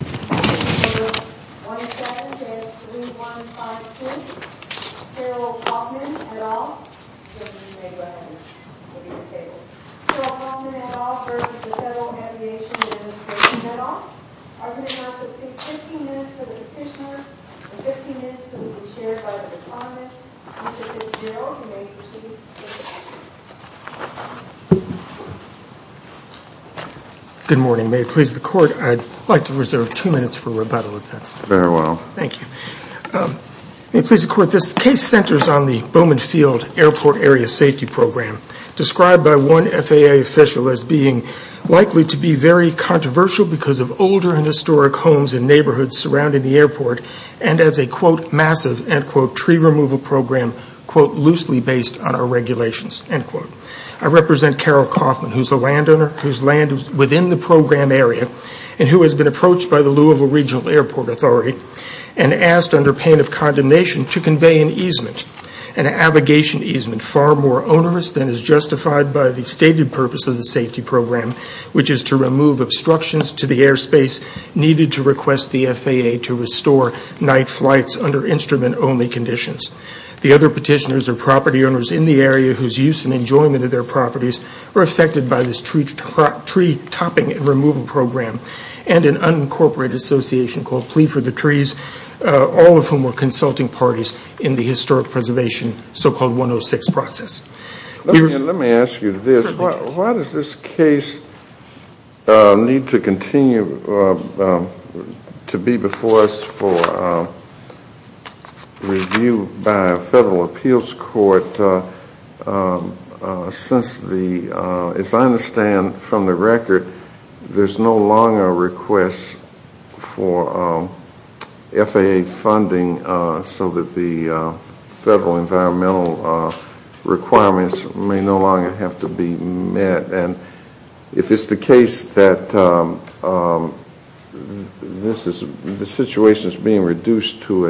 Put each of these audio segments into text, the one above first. Gerald Kaufmann et al. v. Federal Aviation Administration et al. are going to have to sit 15 minutes for the petitioner and 15 minutes will be shared by the respondent. Mr. Fitzgerald, you may proceed. Good morning. May it please the Court, I'd like to reserve two minutes for rebuttal. Very well. Thank you. May it please the Court, this case centers on the Bowman Field Airport Area Safety Program, described by one FAA official as being likely to be very controversial because of older and historic homes and neighborhoods surrounding the airport and as a, quote, loosely based on our regulations, end quote. I represent Carol Kaufmann, who's the landowner, whose land is within the program area and who has been approached by the Louisville Regional Airport Authority and asked under pain of condemnation to convey an easement, an abrogation easement, far more onerous than is justified by the stated purpose of the safety program, which is to remove obstructions to the airspace needed to request the FAA to restore night flights under instrument-only conditions. The other petitioners are property owners in the area whose use and enjoyment of their properties are affected by this tree topping and removal program and an unincorporated association called Plea for the Trees, all of whom were consulting parties in the historic preservation, so-called 106 process. Let me ask you this. Why does this case need to continue to be before us for review by a federal appeals court since the, as I understand from the record, there's no longer a request for FAA funding so that the federal environmental requirements may no longer have to be met? And if it's the case that the situation is being reduced to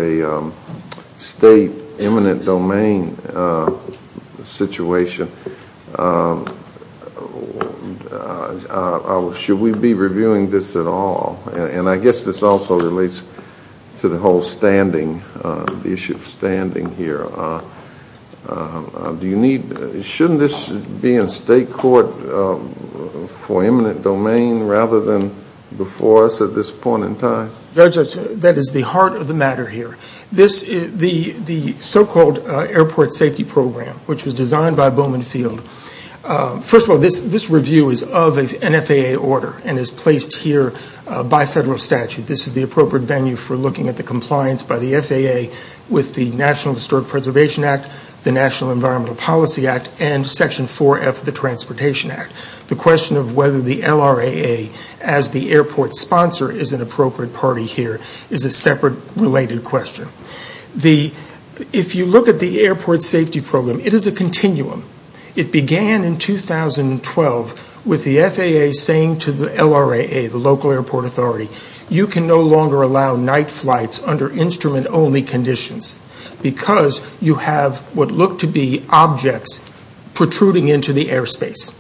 a state eminent domain situation, should we be reviewing this at all? And I guess this also relates to the whole standing, the issue of standing here. Shouldn't this be in state court for eminent domain rather than before us at this point in time? Judge, that is the heart of the matter here. The so-called airport safety program, which was designed by Bowman Field, First of all, this review is of an FAA order and is placed here by federal statute. This is the appropriate venue for looking at the compliance by the FAA with the National Historic Preservation Act, the National Environmental Policy Act, and Section 4F of the Transportation Act. The question of whether the LRAA as the airport sponsor is an appropriate party here is a separate related question. If you look at the airport safety program, it is a continuum. It began in 2012 with the FAA saying to the LRAA, the local airport authority, you can no longer allow night flights under instrument-only conditions because you have what look to be objects protruding into the airspace.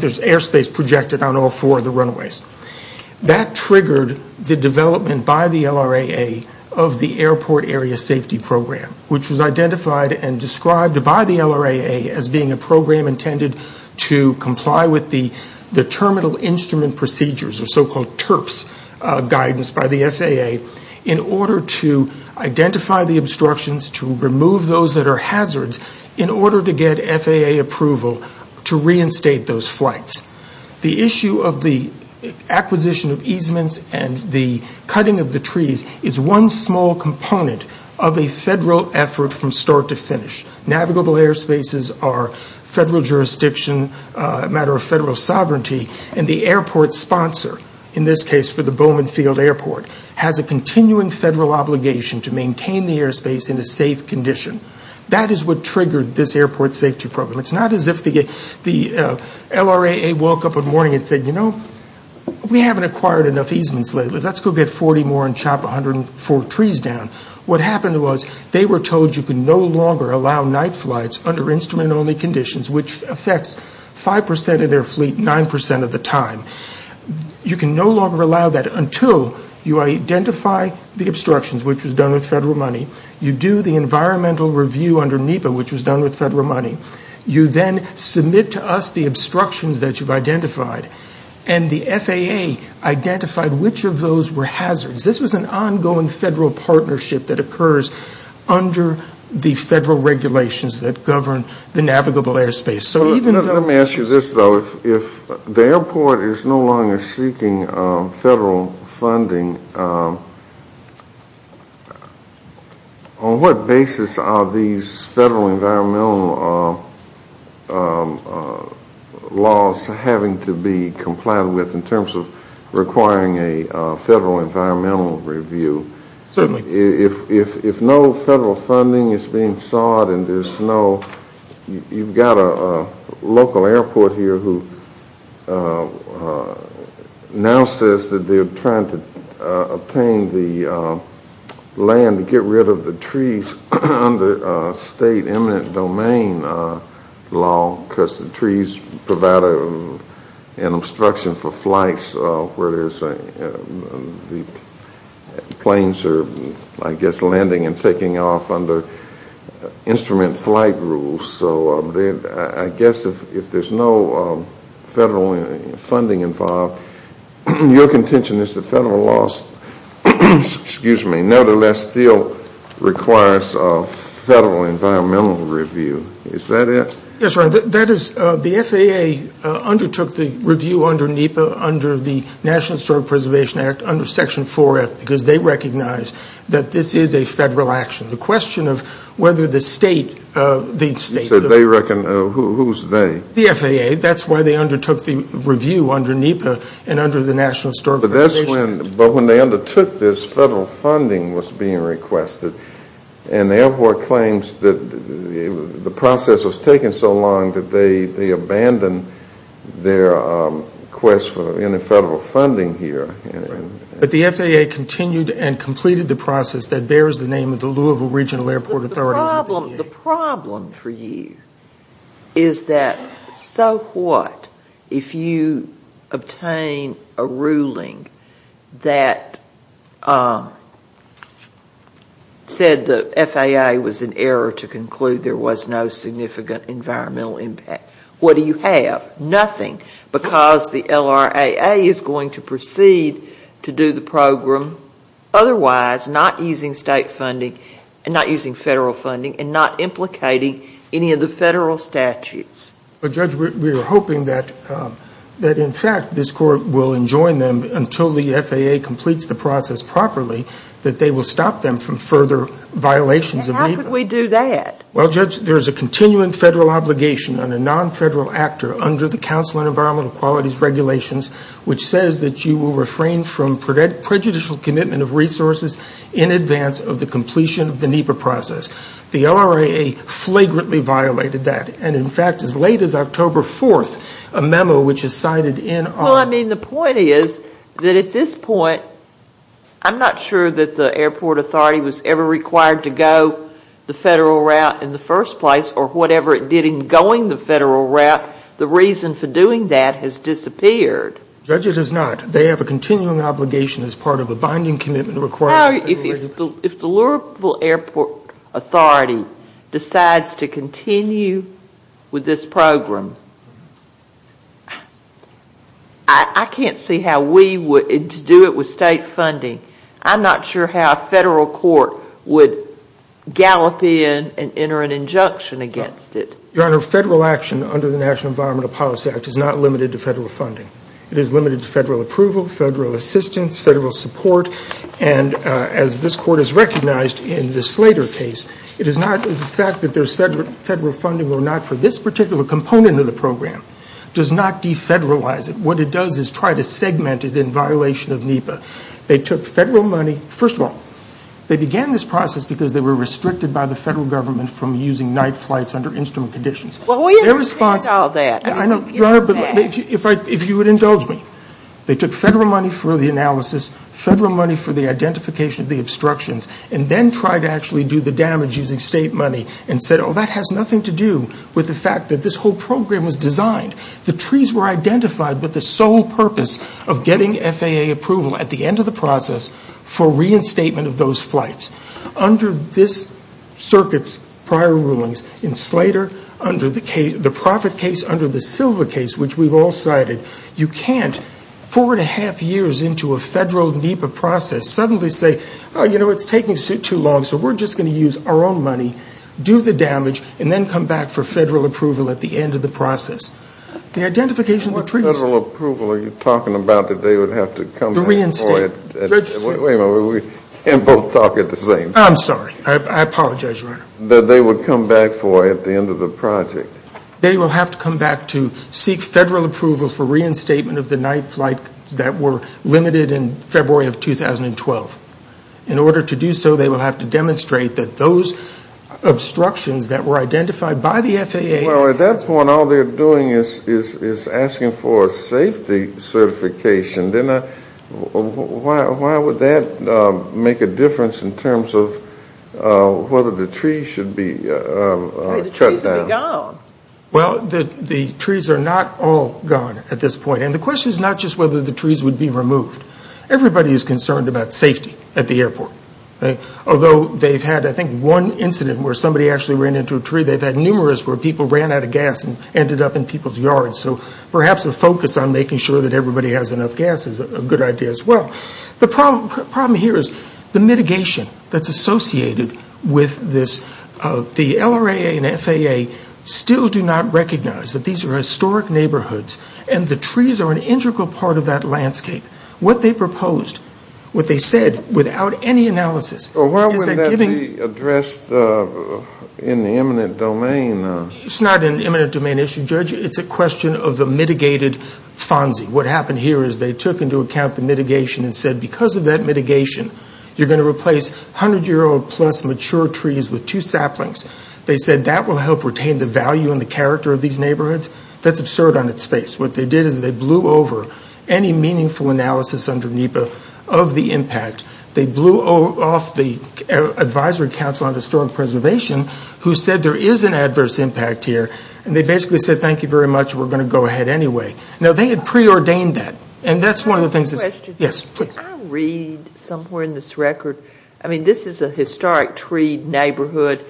There's airspace projected on all four of the runaways. That triggered the development by the LRAA of the airport area safety program, which was identified and described by the LRAA as being a program intended to comply with the terminal instrument procedures, the so-called TIRPS guidance by the FAA, in order to identify the obstructions, to remove those that are hazards, in order to get FAA approval to reinstate those flights. The issue of the acquisition of easements and the cutting of the trees is one small component of a federal effort from start to finish. Navigable airspaces are federal jurisdiction, a matter of federal sovereignty, and the airport sponsor, in this case for the Bowman Field Airport, has a continuing federal obligation to maintain the airspace in a safe condition. That is what triggered this airport safety program. It's not as if the LRAA woke up one morning and said, you know, we haven't acquired enough easements lately. Let's go get 40 more and chop 104 trees down. What happened was they were told you could no longer allow night flights under instrument-only conditions, which affects 5% of their fleet 9% of the time. You can no longer allow that until you identify the obstructions, which was done with federal money. You do the environmental review under NEPA, which was done with federal money. You then submit to us the obstructions that you've identified, and the FAA identified which of those were hazards. This was an ongoing federal partnership that occurs under the federal regulations that govern the navigable airspace. Let me ask you this, though. If the airport is no longer seeking federal funding, on what basis are these federal environmental laws having to be complied with in terms of requiring a federal environmental review? Certainly. If no federal funding is being sought and there's no you've got a local airport here who now says that they're trying to obtain the land to get rid of the trees under state eminent domain law because the trees provide an obstruction for flights where the planes are, I guess, landing and taking off under instrument flight rules. So I guess if there's no federal funding involved, your contention is the federal laws nevertheless still requires a federal environmental review. Is that it? Yes, that is. The FAA undertook the review under NEPA under the National Historic Preservation Act under Section 4F because they recognize that this is a federal action. The question of whether the state of the state of the You said they recognize, who's they? The FAA. That's why they undertook the review under NEPA and under the National Historic Preservation Act. But when they undertook this, federal funding was being requested and the airport claims that the process was taking so long that they abandoned their quest for any federal funding here. But the FAA continued and completed the process that bears the name of the Louisville Regional Airport Authority. The problem for you is that so what if you obtain a ruling that said the FAA was in error to conclude there was no significant environmental impact. What do you have? Nothing because the LRAA is going to proceed to do the program otherwise not using state funding and not using federal funding and not implicating any of the federal statutes. But Judge, we were hoping that in fact this court will enjoin them until the FAA completes the process properly that they will stop them from further violations of NEPA. And how could we do that? Well, Judge, there is a continuing federal obligation on a non-federal actor under the Council on Environmental Quality's regulations which says that you will refrain from prejudicial commitment of resources in advance of the completion of the NEPA process. The LRAA flagrantly violated that. And in fact, as late as October 4th, a memo which is cited in our Well, I mean, the point is that at this point, I'm not sure that the airport authority was ever required to go the federal route in the first place or whatever it did in going the federal route. The reason for doing that has disappeared. Judge, it is not. They have a continuing obligation as part of a binding commitment required. If the Louisville Airport Authority decides to continue with this program, I can't see how we would do it with state funding. I'm not sure how a federal court would gallop in and enter an injunction against it. Your Honor, federal action under the National Environmental Policy Act is not limited to federal funding. It is limited to federal approval, federal assistance, federal support, and as this Court has recognized in the Slater case, it is not the fact that there is federal funding or not for this particular component of the program does not defederalize it. What it does is try to segment it in violation of NEPA. They took federal money. First of all, they began this process because they were restricted by the federal government from using night flights under instrument conditions. Well, we understand all that. Your Honor, if you would indulge me, they took federal money for the analysis, federal money for the identification of the obstructions, and then tried to actually do the damage using state money and said, oh, that has nothing to do with the fact that this whole program was designed. The trees were identified with the sole purpose of getting FAA approval at the end of the process for reinstatement of those flights. Under this circuit's prior rulings in Slater, under the profit case, under the Silva case, which we've all cited, you can't four and a half years into a federal NEPA process suddenly say, oh, you know, it's taking too long, so we're just going to use our own money, do the damage, and then come back for federal approval at the end of the process. The identification of the trees. What federal approval are you talking about that they would have to come back for? The reinstatement. Wait a minute. We can't both talk at the same time. I'm sorry. I apologize, Your Honor. That they would come back for at the end of the project. They will have to come back to seek federal approval for reinstatement of the night flight that were limited in February of 2012. In order to do so, they will have to demonstrate that those obstructions that were identified by the FAA. Well, at that point, all they're doing is asking for a safety certification. Then why would that make a difference in terms of whether the trees should be cut down? The trees would be gone. Well, the trees are not all gone at this point. The question is not just whether the trees would be removed. Everybody is concerned about safety at the airport. Although they've had, I think, one incident where somebody actually ran into a tree, they've had numerous where people ran out of gas and ended up in people's yards. So perhaps a focus on making sure that everybody has enough gas is a good idea as well. The problem here is the mitigation that's associated with this. The LRAA and FAA still do not recognize that these are historic neighborhoods and the trees are an integral part of that landscape. What they proposed, what they said, without any analysis is that giving Well, why wouldn't that be addressed in the eminent domain? It's not an eminent domain issue, Judge. It's a question of the mitigated FONSI. What happened here is they took into account the mitigation and said because of that mitigation, you're going to replace 100-year-old plus mature trees with two saplings. They said that will help retain the value and the character of these neighborhoods. That's absurd on its face. What they did is they blew over any meaningful analysis under NEPA of the impact. They blew off the Advisory Council on Historic Preservation, who said there is an adverse impact here. They basically said, thank you very much. We're going to go ahead anyway. Now, they had preordained that, and that's one of the things that's Can I ask a question? Yes, please. Can I read somewhere in this record? I mean, this is a historic tree neighborhood,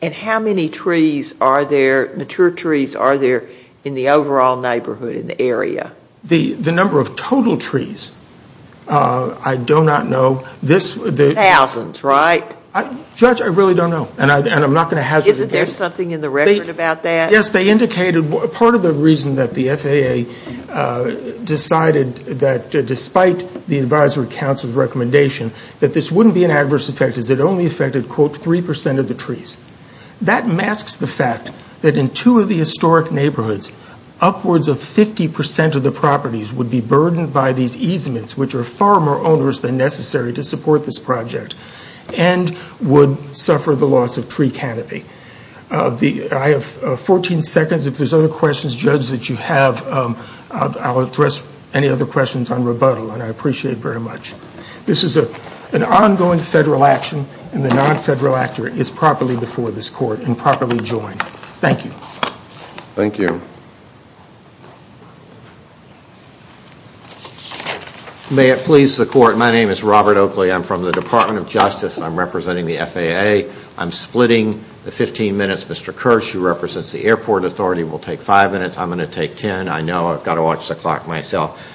and how many trees are there, mature trees, are there in the overall neighborhood, in the area? The number of total trees, I do not know. Thousands, right? Judge, I really don't know, and I'm not going to hazard a guess. Isn't there something in the record about that? Yes, they indicated part of the reason that the FAA decided that despite the Advisory Council's recommendation that this wouldn't be an adverse effect is it only affected, quote, 3% of the trees. That masks the fact that in two of the historic neighborhoods, upwards of 50% of the properties would be burdened by these easements, which are far more onerous than necessary to support this project, and would suffer the loss of tree canopy. I have 14 seconds. If there's other questions, Judge, that you have, I'll address any other questions on rebuttal, and I appreciate it very much. This is an ongoing Federal action, and the non-Federal actor is properly before this Court and properly joined. Thank you. Thank you. May it please the Court, my name is Robert Oakley. I'm from the Department of Justice. I'm representing the FAA. I'm splitting the 15 minutes. Mr. Kirsch, who represents the Airport Authority, will take five minutes. I'm going to take 10. I know. I've got to watch the clock myself.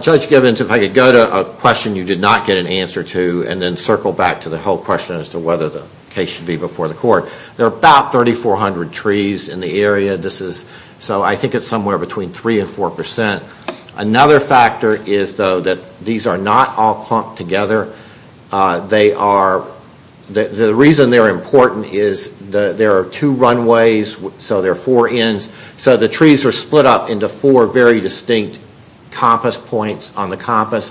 Judge Gibbons, if I could go to a question you did not get an answer to, and then circle back to the whole question as to whether the case should be before the Court. There are about 3,400 trees in the area. So I think it's somewhere between 3% and 4%. Another factor is, though, that these are not all clumped together. The reason they're important is there are two runways, so there are four ends. So the trees are split up into four very distinct compass points on the compass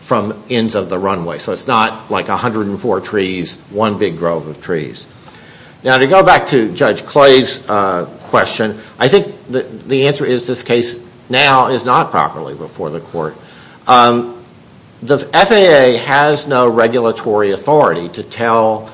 from ends of the runway. So it's not like 104 trees, one big grove of trees. Now, to go back to Judge Clay's question, I think the answer is this case now is not properly before the Court. The FAA has no regulatory authority to tell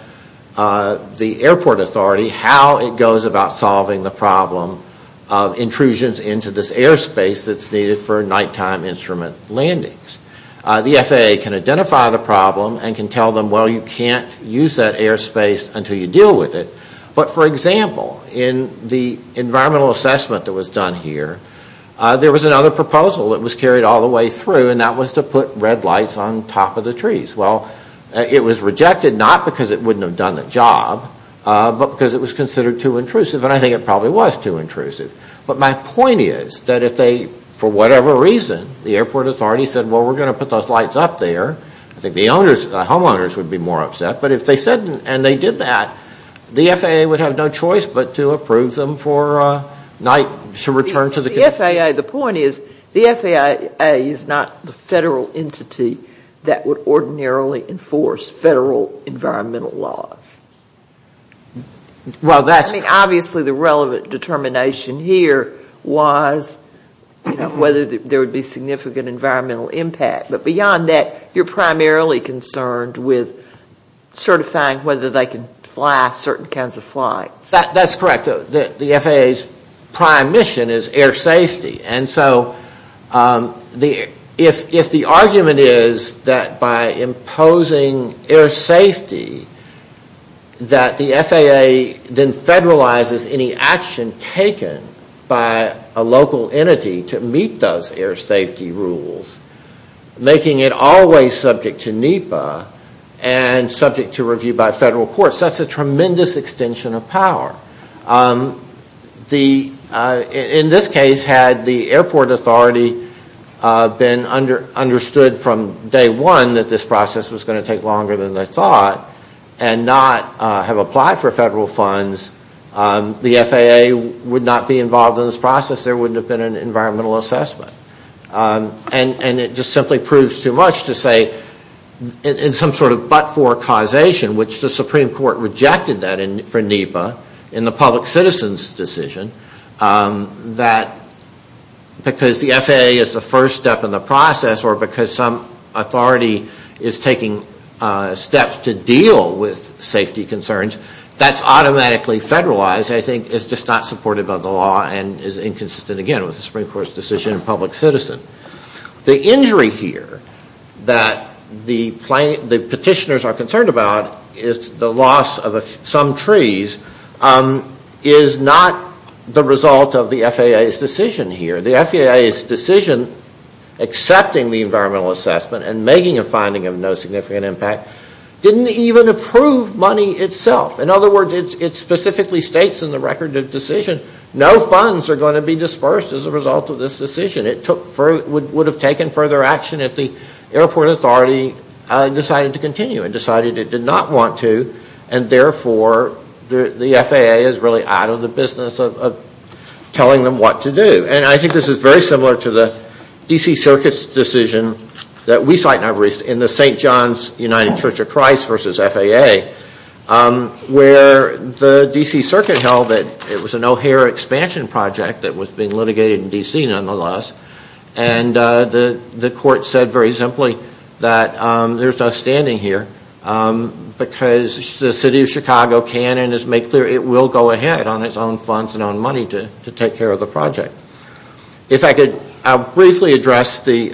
the Airport Authority how it goes about solving the problem of intrusions into this airspace that's needed for nighttime instrument landings. The FAA can identify the problem and can tell them, well, you can't use that airspace until you deal with it. But, for example, in the environmental assessment that was done here, there was another proposal that was carried all the way through, and that was to put red lights on top of the trees. Well, it was rejected, not because it wouldn't have done the job, but because it was considered too intrusive. And I think it probably was too intrusive. But my point is that if they, for whatever reason, the Airport Authority said, well, we're going to put those lights up there, I think the homeowners would be more upset. But if they said and they did that, the FAA would have no choice but to approve them for night, to return to the... The FAA, the point is, the FAA is not the federal entity that would ordinarily enforce federal environmental laws. Well, that's... I mean, obviously, the relevant determination here was whether there would be significant environmental impact. But beyond that, you're primarily concerned with certifying whether they can fly certain kinds of flights. That's correct. The FAA's prime mission is air safety. And so if the argument is that by imposing air safety, that the FAA then federalizes any action taken by a local entity to meet those air safety rules, making it always subject to NEPA and subject to review by federal courts, that's a tremendous extension of power. In this case, had the Airport Authority been understood from day one that this process was going to take longer than they thought and not have applied for federal funds, the FAA would not be involved in this process. There wouldn't have been an environmental assessment. And it just simply proves too much to say in some sort of but-for causation, which the Supreme Court rejected that for NEPA in the public citizen's decision, that because the FAA is the first step in the process or because some authority is taking steps to deal with safety concerns, that's automatically federalized, I think, is just not supported by the law and is inconsistent again with the Supreme Court's decision in public citizen. The injury here that the petitioners are concerned about is the loss of some trees is not the result of the FAA's decision here. The FAA's decision accepting the environmental assessment and making a finding of no significant impact didn't even approve money itself. In other words, it specifically states in the record of decision no funds are going to be dispersed as a result of this decision. It would have taken further action if the Airport Authority decided to continue and decided it did not want to and therefore the FAA is really out of the business of telling them what to do. And I think this is very similar to the D.C. Circuit's decision that we cite in the St. John's United Church of Christ versus FAA where the D.C. Circuit held that it was an O'Hare expansion project that was being litigated in D.C. nonetheless and the court said very simply that there's no standing here because the city of Chicago can and has made clear it will go ahead on its own funds and on money to take care of the project. If I could briefly address the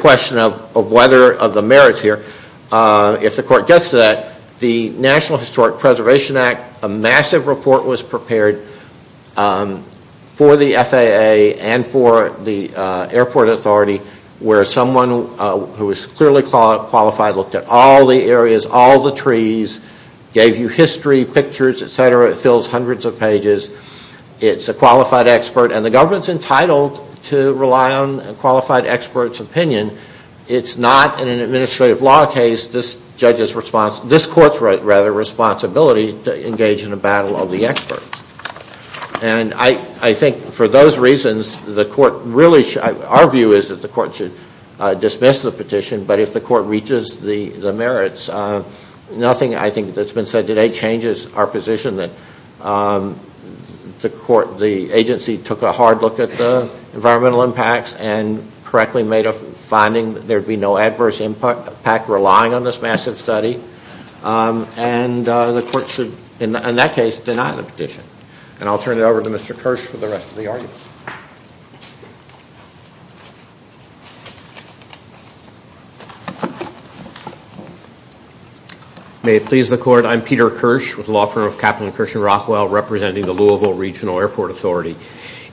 question of whether of the merits here. If the court gets to that, the National Historic Preservation Act, a massive report was prepared for the FAA and for the Airport Authority where someone who is clearly qualified looked at all the areas, all the trees, gave you history, pictures, etc. It fills hundreds of pages. It's a qualified expert and the government's entitled to rely on a qualified expert's opinion. It's not in an administrative law case. This court's responsibility to engage in a battle of the experts. And I think for those reasons, our view is that the court should dismiss the petition but if the court reaches the merits, nothing I think that's been said today changes our position that the agency took a hard look at the environmental impacts and correctly made a finding that there'd be no adverse impact relying on this massive study. And the court should, in that case, deny the petition. And I'll turn it over to Mr. Kirsch for the rest of the argument. May it please the court, I'm Peter Kirsch with the law firm of Captain Kirsch and Rockwell representing the Louisville Regional Airport Authority.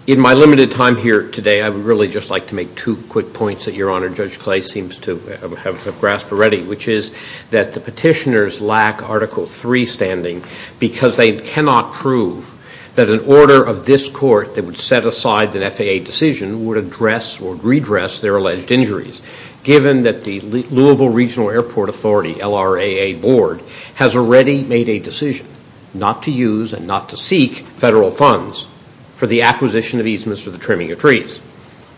In my limited time here today, I would really just like to make two quick points that Your Honor, Judge Clay seems to have grasped already, which is that the petitioners lack Article III standing because they cannot prove that an order of this court that would set aside the FAA decision would address or redress their alleged injuries, given that the Louisville Regional Airport Authority, LRAA board, has already made a decision not to use and not to seek federal funds for the acquisition of easements for the trimming of trees.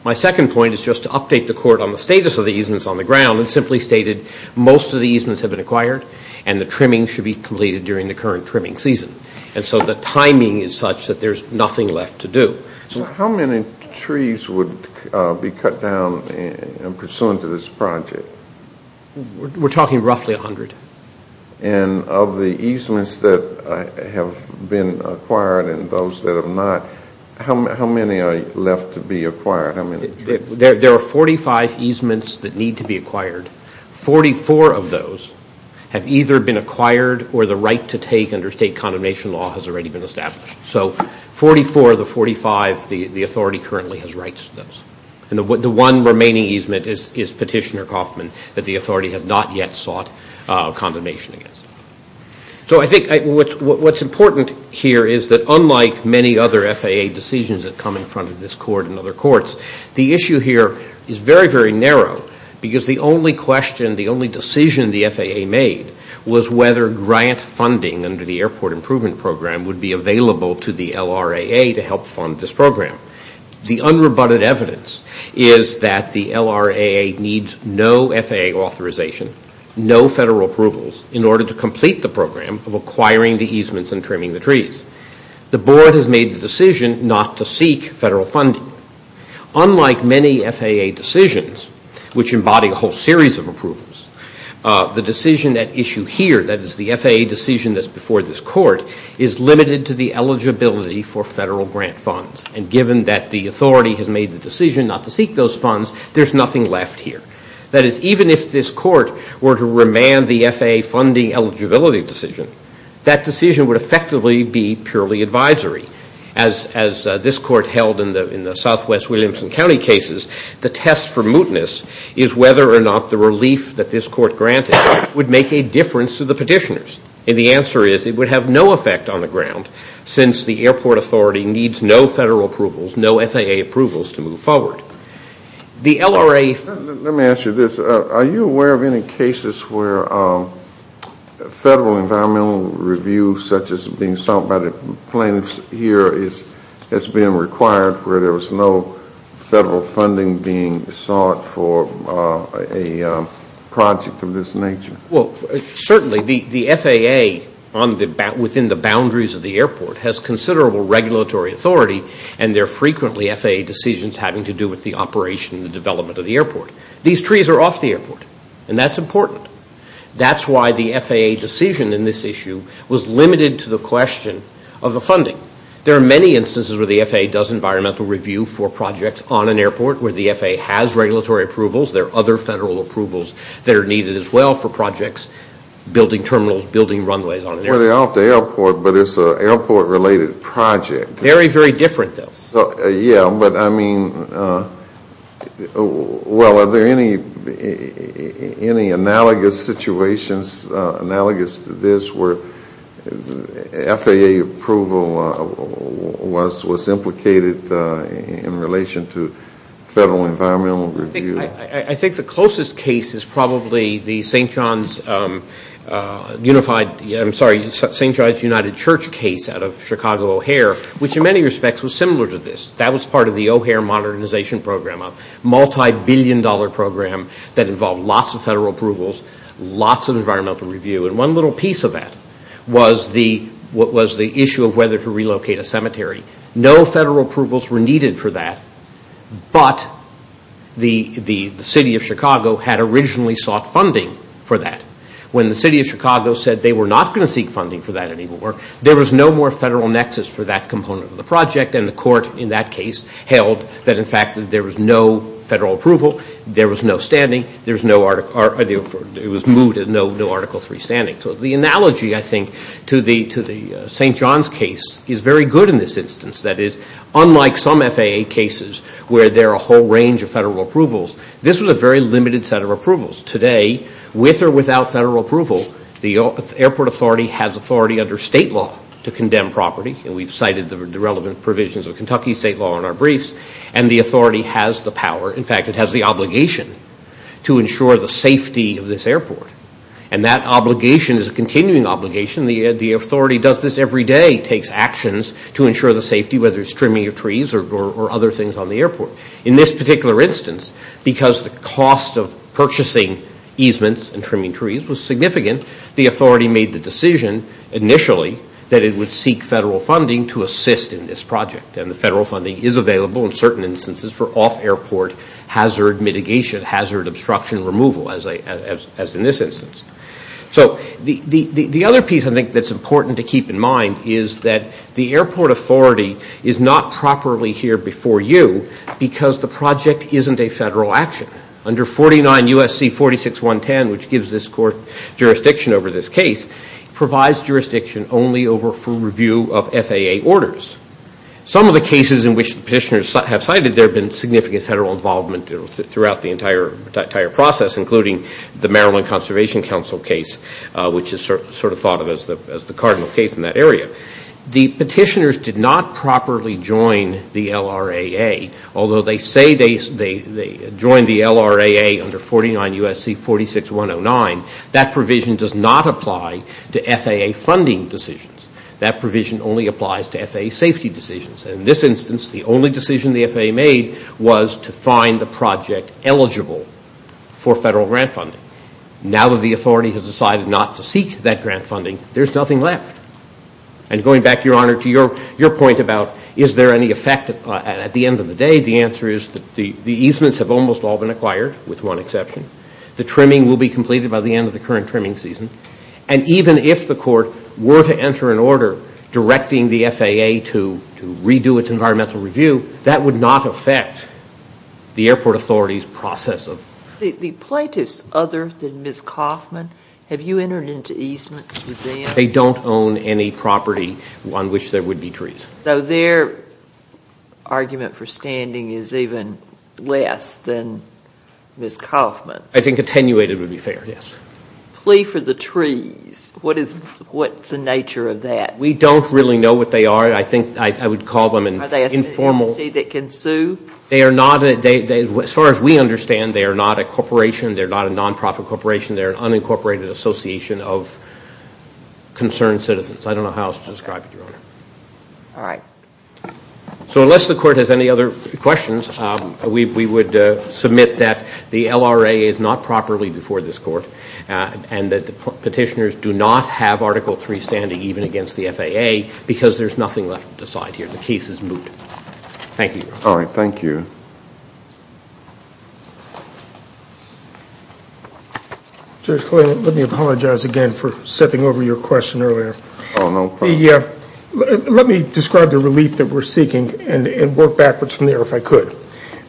My second point is just to update the court on the status of the easements on the ground and simply stated most of the easements have been acquired and the trimming should be completed during the current trimming season. And so the timing is such that there's nothing left to do. How many trees would be cut down pursuant to this project? We're talking roughly 100. And of the easements that have been acquired and those that have not, how many are left to be acquired? There are 45 easements that need to be acquired. 44 of those have either been acquired or the right to take under state condemnation law has already been established. So 44 of the 45, the authority currently has rights to those. And the one remaining easement is Petitioner Coffman that the authority has not yet sought condemnation against. So I think what's important here is that unlike many other FAA decisions that come in front of this court and other courts, the issue here is very, very narrow because the only question, the only decision the FAA made was whether grant funding under the Airport Improvement Program would be available to the LRAA to help fund this program. The unrebutted evidence is that the LRAA needs no FAA authorization, no federal approvals, in order to complete the program of acquiring the easements and trimming the trees. The board has made the decision not to seek federal funding. Unlike many FAA decisions, which embody a whole series of approvals, the decision at issue here, that is the FAA decision that's before this court, is limited to the eligibility for federal grant funds. And given that the authority has made the decision not to seek those funds, there's nothing left here. That is, even if this court were to remand the FAA funding eligibility decision, that decision would effectively be purely advisory. As this court held in the Southwest Williamson County cases, the test for mootness is whether or not the relief that this court granted would make a difference to the petitioners. And the answer is it would have no effect on the ground since the airport authority needs no federal approvals, no FAA approvals to move forward. The LRAA... Let me ask you this. Are you aware of any cases where federal environmental reviews, such as being sought by the plaintiffs here, has been required where there was no federal funding being sought for a project of this nature? Well, certainly the FAA within the boundaries of the airport has considerable regulatory authority, and they're frequently FAA decisions having to do with the operation and the development of the airport. These trees are off the airport, and that's important. That's why the FAA decision in this issue was limited to the question of the funding. There are many instances where the FAA does environmental review for projects on an airport where the FAA has regulatory approvals. There are other federal approvals that are needed as well for projects, building terminals, building runways on an airport. Well, they're off the airport, but it's an airport-related project. Very, very different, though. Yeah, but I mean, well, are there any analogous situations, analogous to this, where FAA approval was implicated in relation to federal environmental review? I think the closest case is probably the St. John's Unified, I'm sorry, St. John's United Church case out of Chicago O'Hare, which in many respects was similar to this. That was part of the O'Hare modernization program, a multibillion-dollar program that involved lots of federal approvals, lots of environmental review, and one little piece of that was the issue of whether to relocate a cemetery. No federal approvals were needed for that, but the city of Chicago had originally sought funding for that. When the city of Chicago said they were not going to seek funding for that anymore, there was no more federal nexus for that component of the project, and the court in that case held that, in fact, there was no federal approval, there was no standing, there was no Article III standing. So the analogy, I think, to the St. John's case is very good in this instance. That is, unlike some FAA cases where there are a whole range of federal approvals, this was a very limited set of approvals. Today, with or without federal approval, the airport authority has authority under state law to condemn property, and we've cited the relevant provisions of Kentucky state law in our briefs, and the authority has the power, in fact, it has the obligation to ensure the safety of this airport. And that obligation is a continuing obligation. The authority does this every day. It takes actions to ensure the safety, whether it's trimming your trees or other things on the airport. In this particular instance, because the cost of purchasing easements and trimming trees was significant, the authority made the decision initially that it would seek federal funding to assist in this project, and the federal funding is available in certain instances for off-airport hazard mitigation, hazard obstruction removal, as in this instance. So the other piece I think that's important to keep in mind is that the airport authority is not properly here before you because the project isn't a federal action. Under 49 U.S.C. 46.110, which gives this court jurisdiction over this case, provides jurisdiction only over full review of FAA orders. Some of the cases in which the petitioners have cited, there have been significant federal involvement throughout the entire process, including the Maryland Conservation Council case, which is sort of thought of as the cardinal case in that area. The petitioners did not properly join the LRAA, although they say they joined the LRAA under 49 U.S.C. 46.109, that provision does not apply to FAA funding decisions. That provision only applies to FAA safety decisions. In this instance, the only decision the FAA made was to find the project eligible for federal grant funding. Now that the authority has decided not to seek that grant funding, there's nothing left. And going back, Your Honor, to your point about is there any effect at the end of the day, the answer is that the easements have almost all been acquired, with one exception. The trimming will be completed by the end of the current trimming season. And even if the court were to enter an order directing the FAA to redo its environmental review, that would not affect the airport authority's process. The plaintiffs other than Ms. Kauffman, have you entered into easements with them? They don't own any property on which there would be trees. So their argument for standing is even less than Ms. Kauffman. I think attenuated would be fair, yes. A plea for the trees, what's the nature of that? We don't really know what they are. I think I would call them informal. Are they an entity that can sue? They are not, as far as we understand, they are not a corporation. They're not a non-profit corporation. They're an unincorporated association of concerned citizens. I don't know how else to describe it, Your Honor. All right. So unless the court has any other questions, we would submit that the LRA is not properly before this court and that the petitioners do not have Article III standing even against the FAA because there's nothing left to decide here. The case is moot. Thank you, Your Honor. All right, thank you. Judge Clayton, let me apologize again for stepping over your question earlier. Oh, no problem. Let me describe the relief that we're seeking and work backwards from there if I could.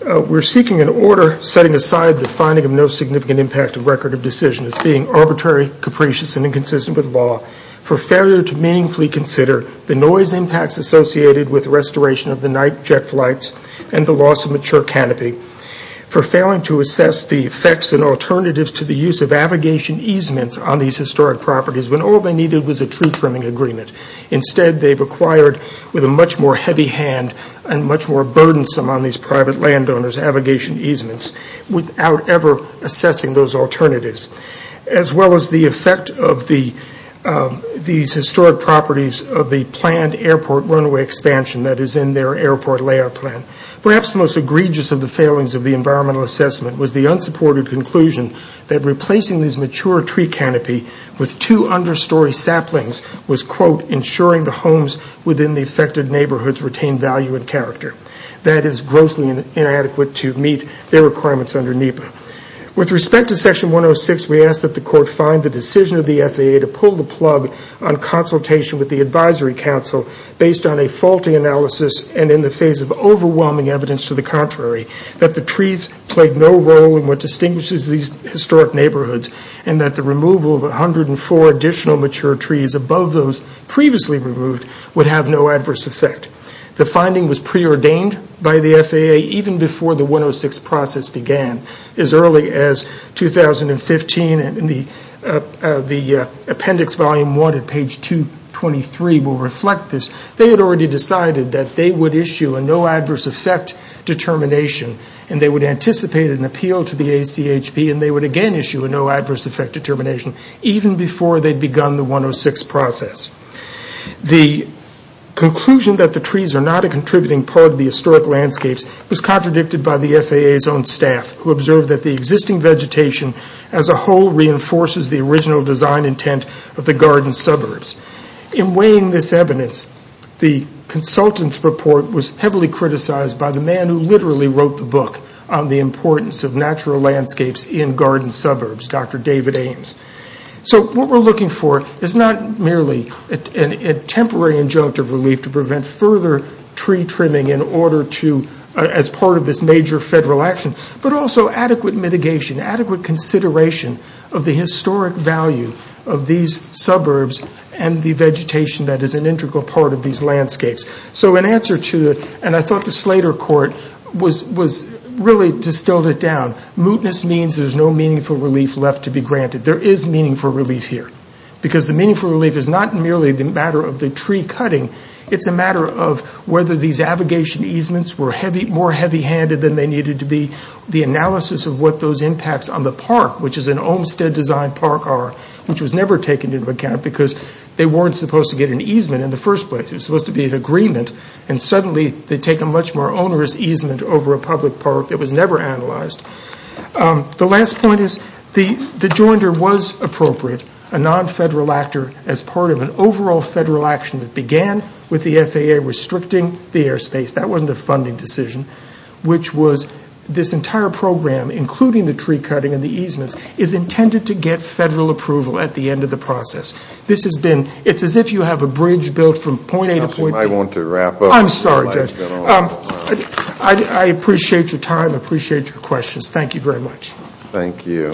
We're seeking an order setting aside the finding of no significant impact of record of decision. It's being arbitrary, capricious, and inconsistent with law for failure to meaningfully consider the noise impacts associated with restoration of the night jet flights and the loss of mature canopy, for failing to assess the effects and alternatives to the use of abrogation easements on these historic properties when all they needed was a tree trimming agreement. Instead, they've acquired with a much more heavy hand and much more burdensome on these private landowners abrogation easements without ever assessing those alternatives, as well as the effect of these historic properties of the planned airport runway expansion that is in their airport layout plan. Perhaps the most egregious of the failings of the environmental assessment was the unsupported conclusion that replacing these mature tree canopy with two understory saplings was, quote, ensuring the homes within the affected neighborhoods retained value and character. That is grossly inadequate to meet their requirements under NEPA. With respect to section 106, we ask that the court find the decision of the FAA to pull the plug on consultation with the advisory council based on a faulty analysis and in the face of overwhelming evidence to the contrary that the trees played no role in what distinguishes these historic neighborhoods and that the removal of 104 additional mature trees above those previously removed would have no adverse effect. The finding was preordained by the FAA even before the 106 process began. As early as 2015, the appendix volume 1 at page 223 will reflect this. They had already decided that they would issue a no adverse effect determination and they would anticipate an appeal to the ACHP and they would again issue a no adverse effect determination even before they'd begun the 106 process. The conclusion that the trees are not a contributing part of the historic landscapes was contradicted by the FAA's own staff who observed that the existing vegetation as a whole reinforces the original design intent of the garden suburbs. In weighing this evidence, the consultant's report was heavily criticized by the man who literally wrote the book on the importance of natural landscapes in garden suburbs, Dr. David Ames. What we're looking for is not merely a temporary injunctive relief to prevent further tree trimming as part of this major federal action but also adequate mitigation, adequate consideration of the historic value of these suburbs and the vegetation that is an integral part of these landscapes. So in answer to it, and I thought the Slater court was really distilled it down, mootness means there's no meaningful relief left to be granted. There is meaningful relief here because the meaningful relief is not merely the matter of the tree cutting. It's a matter of whether these abrogation easements were more heavy handed than they needed to be, the analysis of what those impacts on the park, which is an Olmstead design park R, which was never taken into account because they weren't supposed to get an easement in the first place. It was supposed to be an agreement and suddenly they take a much more onerous easement over a public park that was never analyzed. The last point is the joinder was appropriate, a non-federal actor as part of an overall federal action that began with the FAA restricting the airspace. That wasn't a funding decision, which was this entire program, including the tree cutting and the easements, is intended to get federal approval at the end of the process. This has been, it's as if you have a bridge built from point A to point B. I want to wrap up. I'm sorry, Judge. I appreciate your time, I appreciate your questions. Thank you very much. Thank you.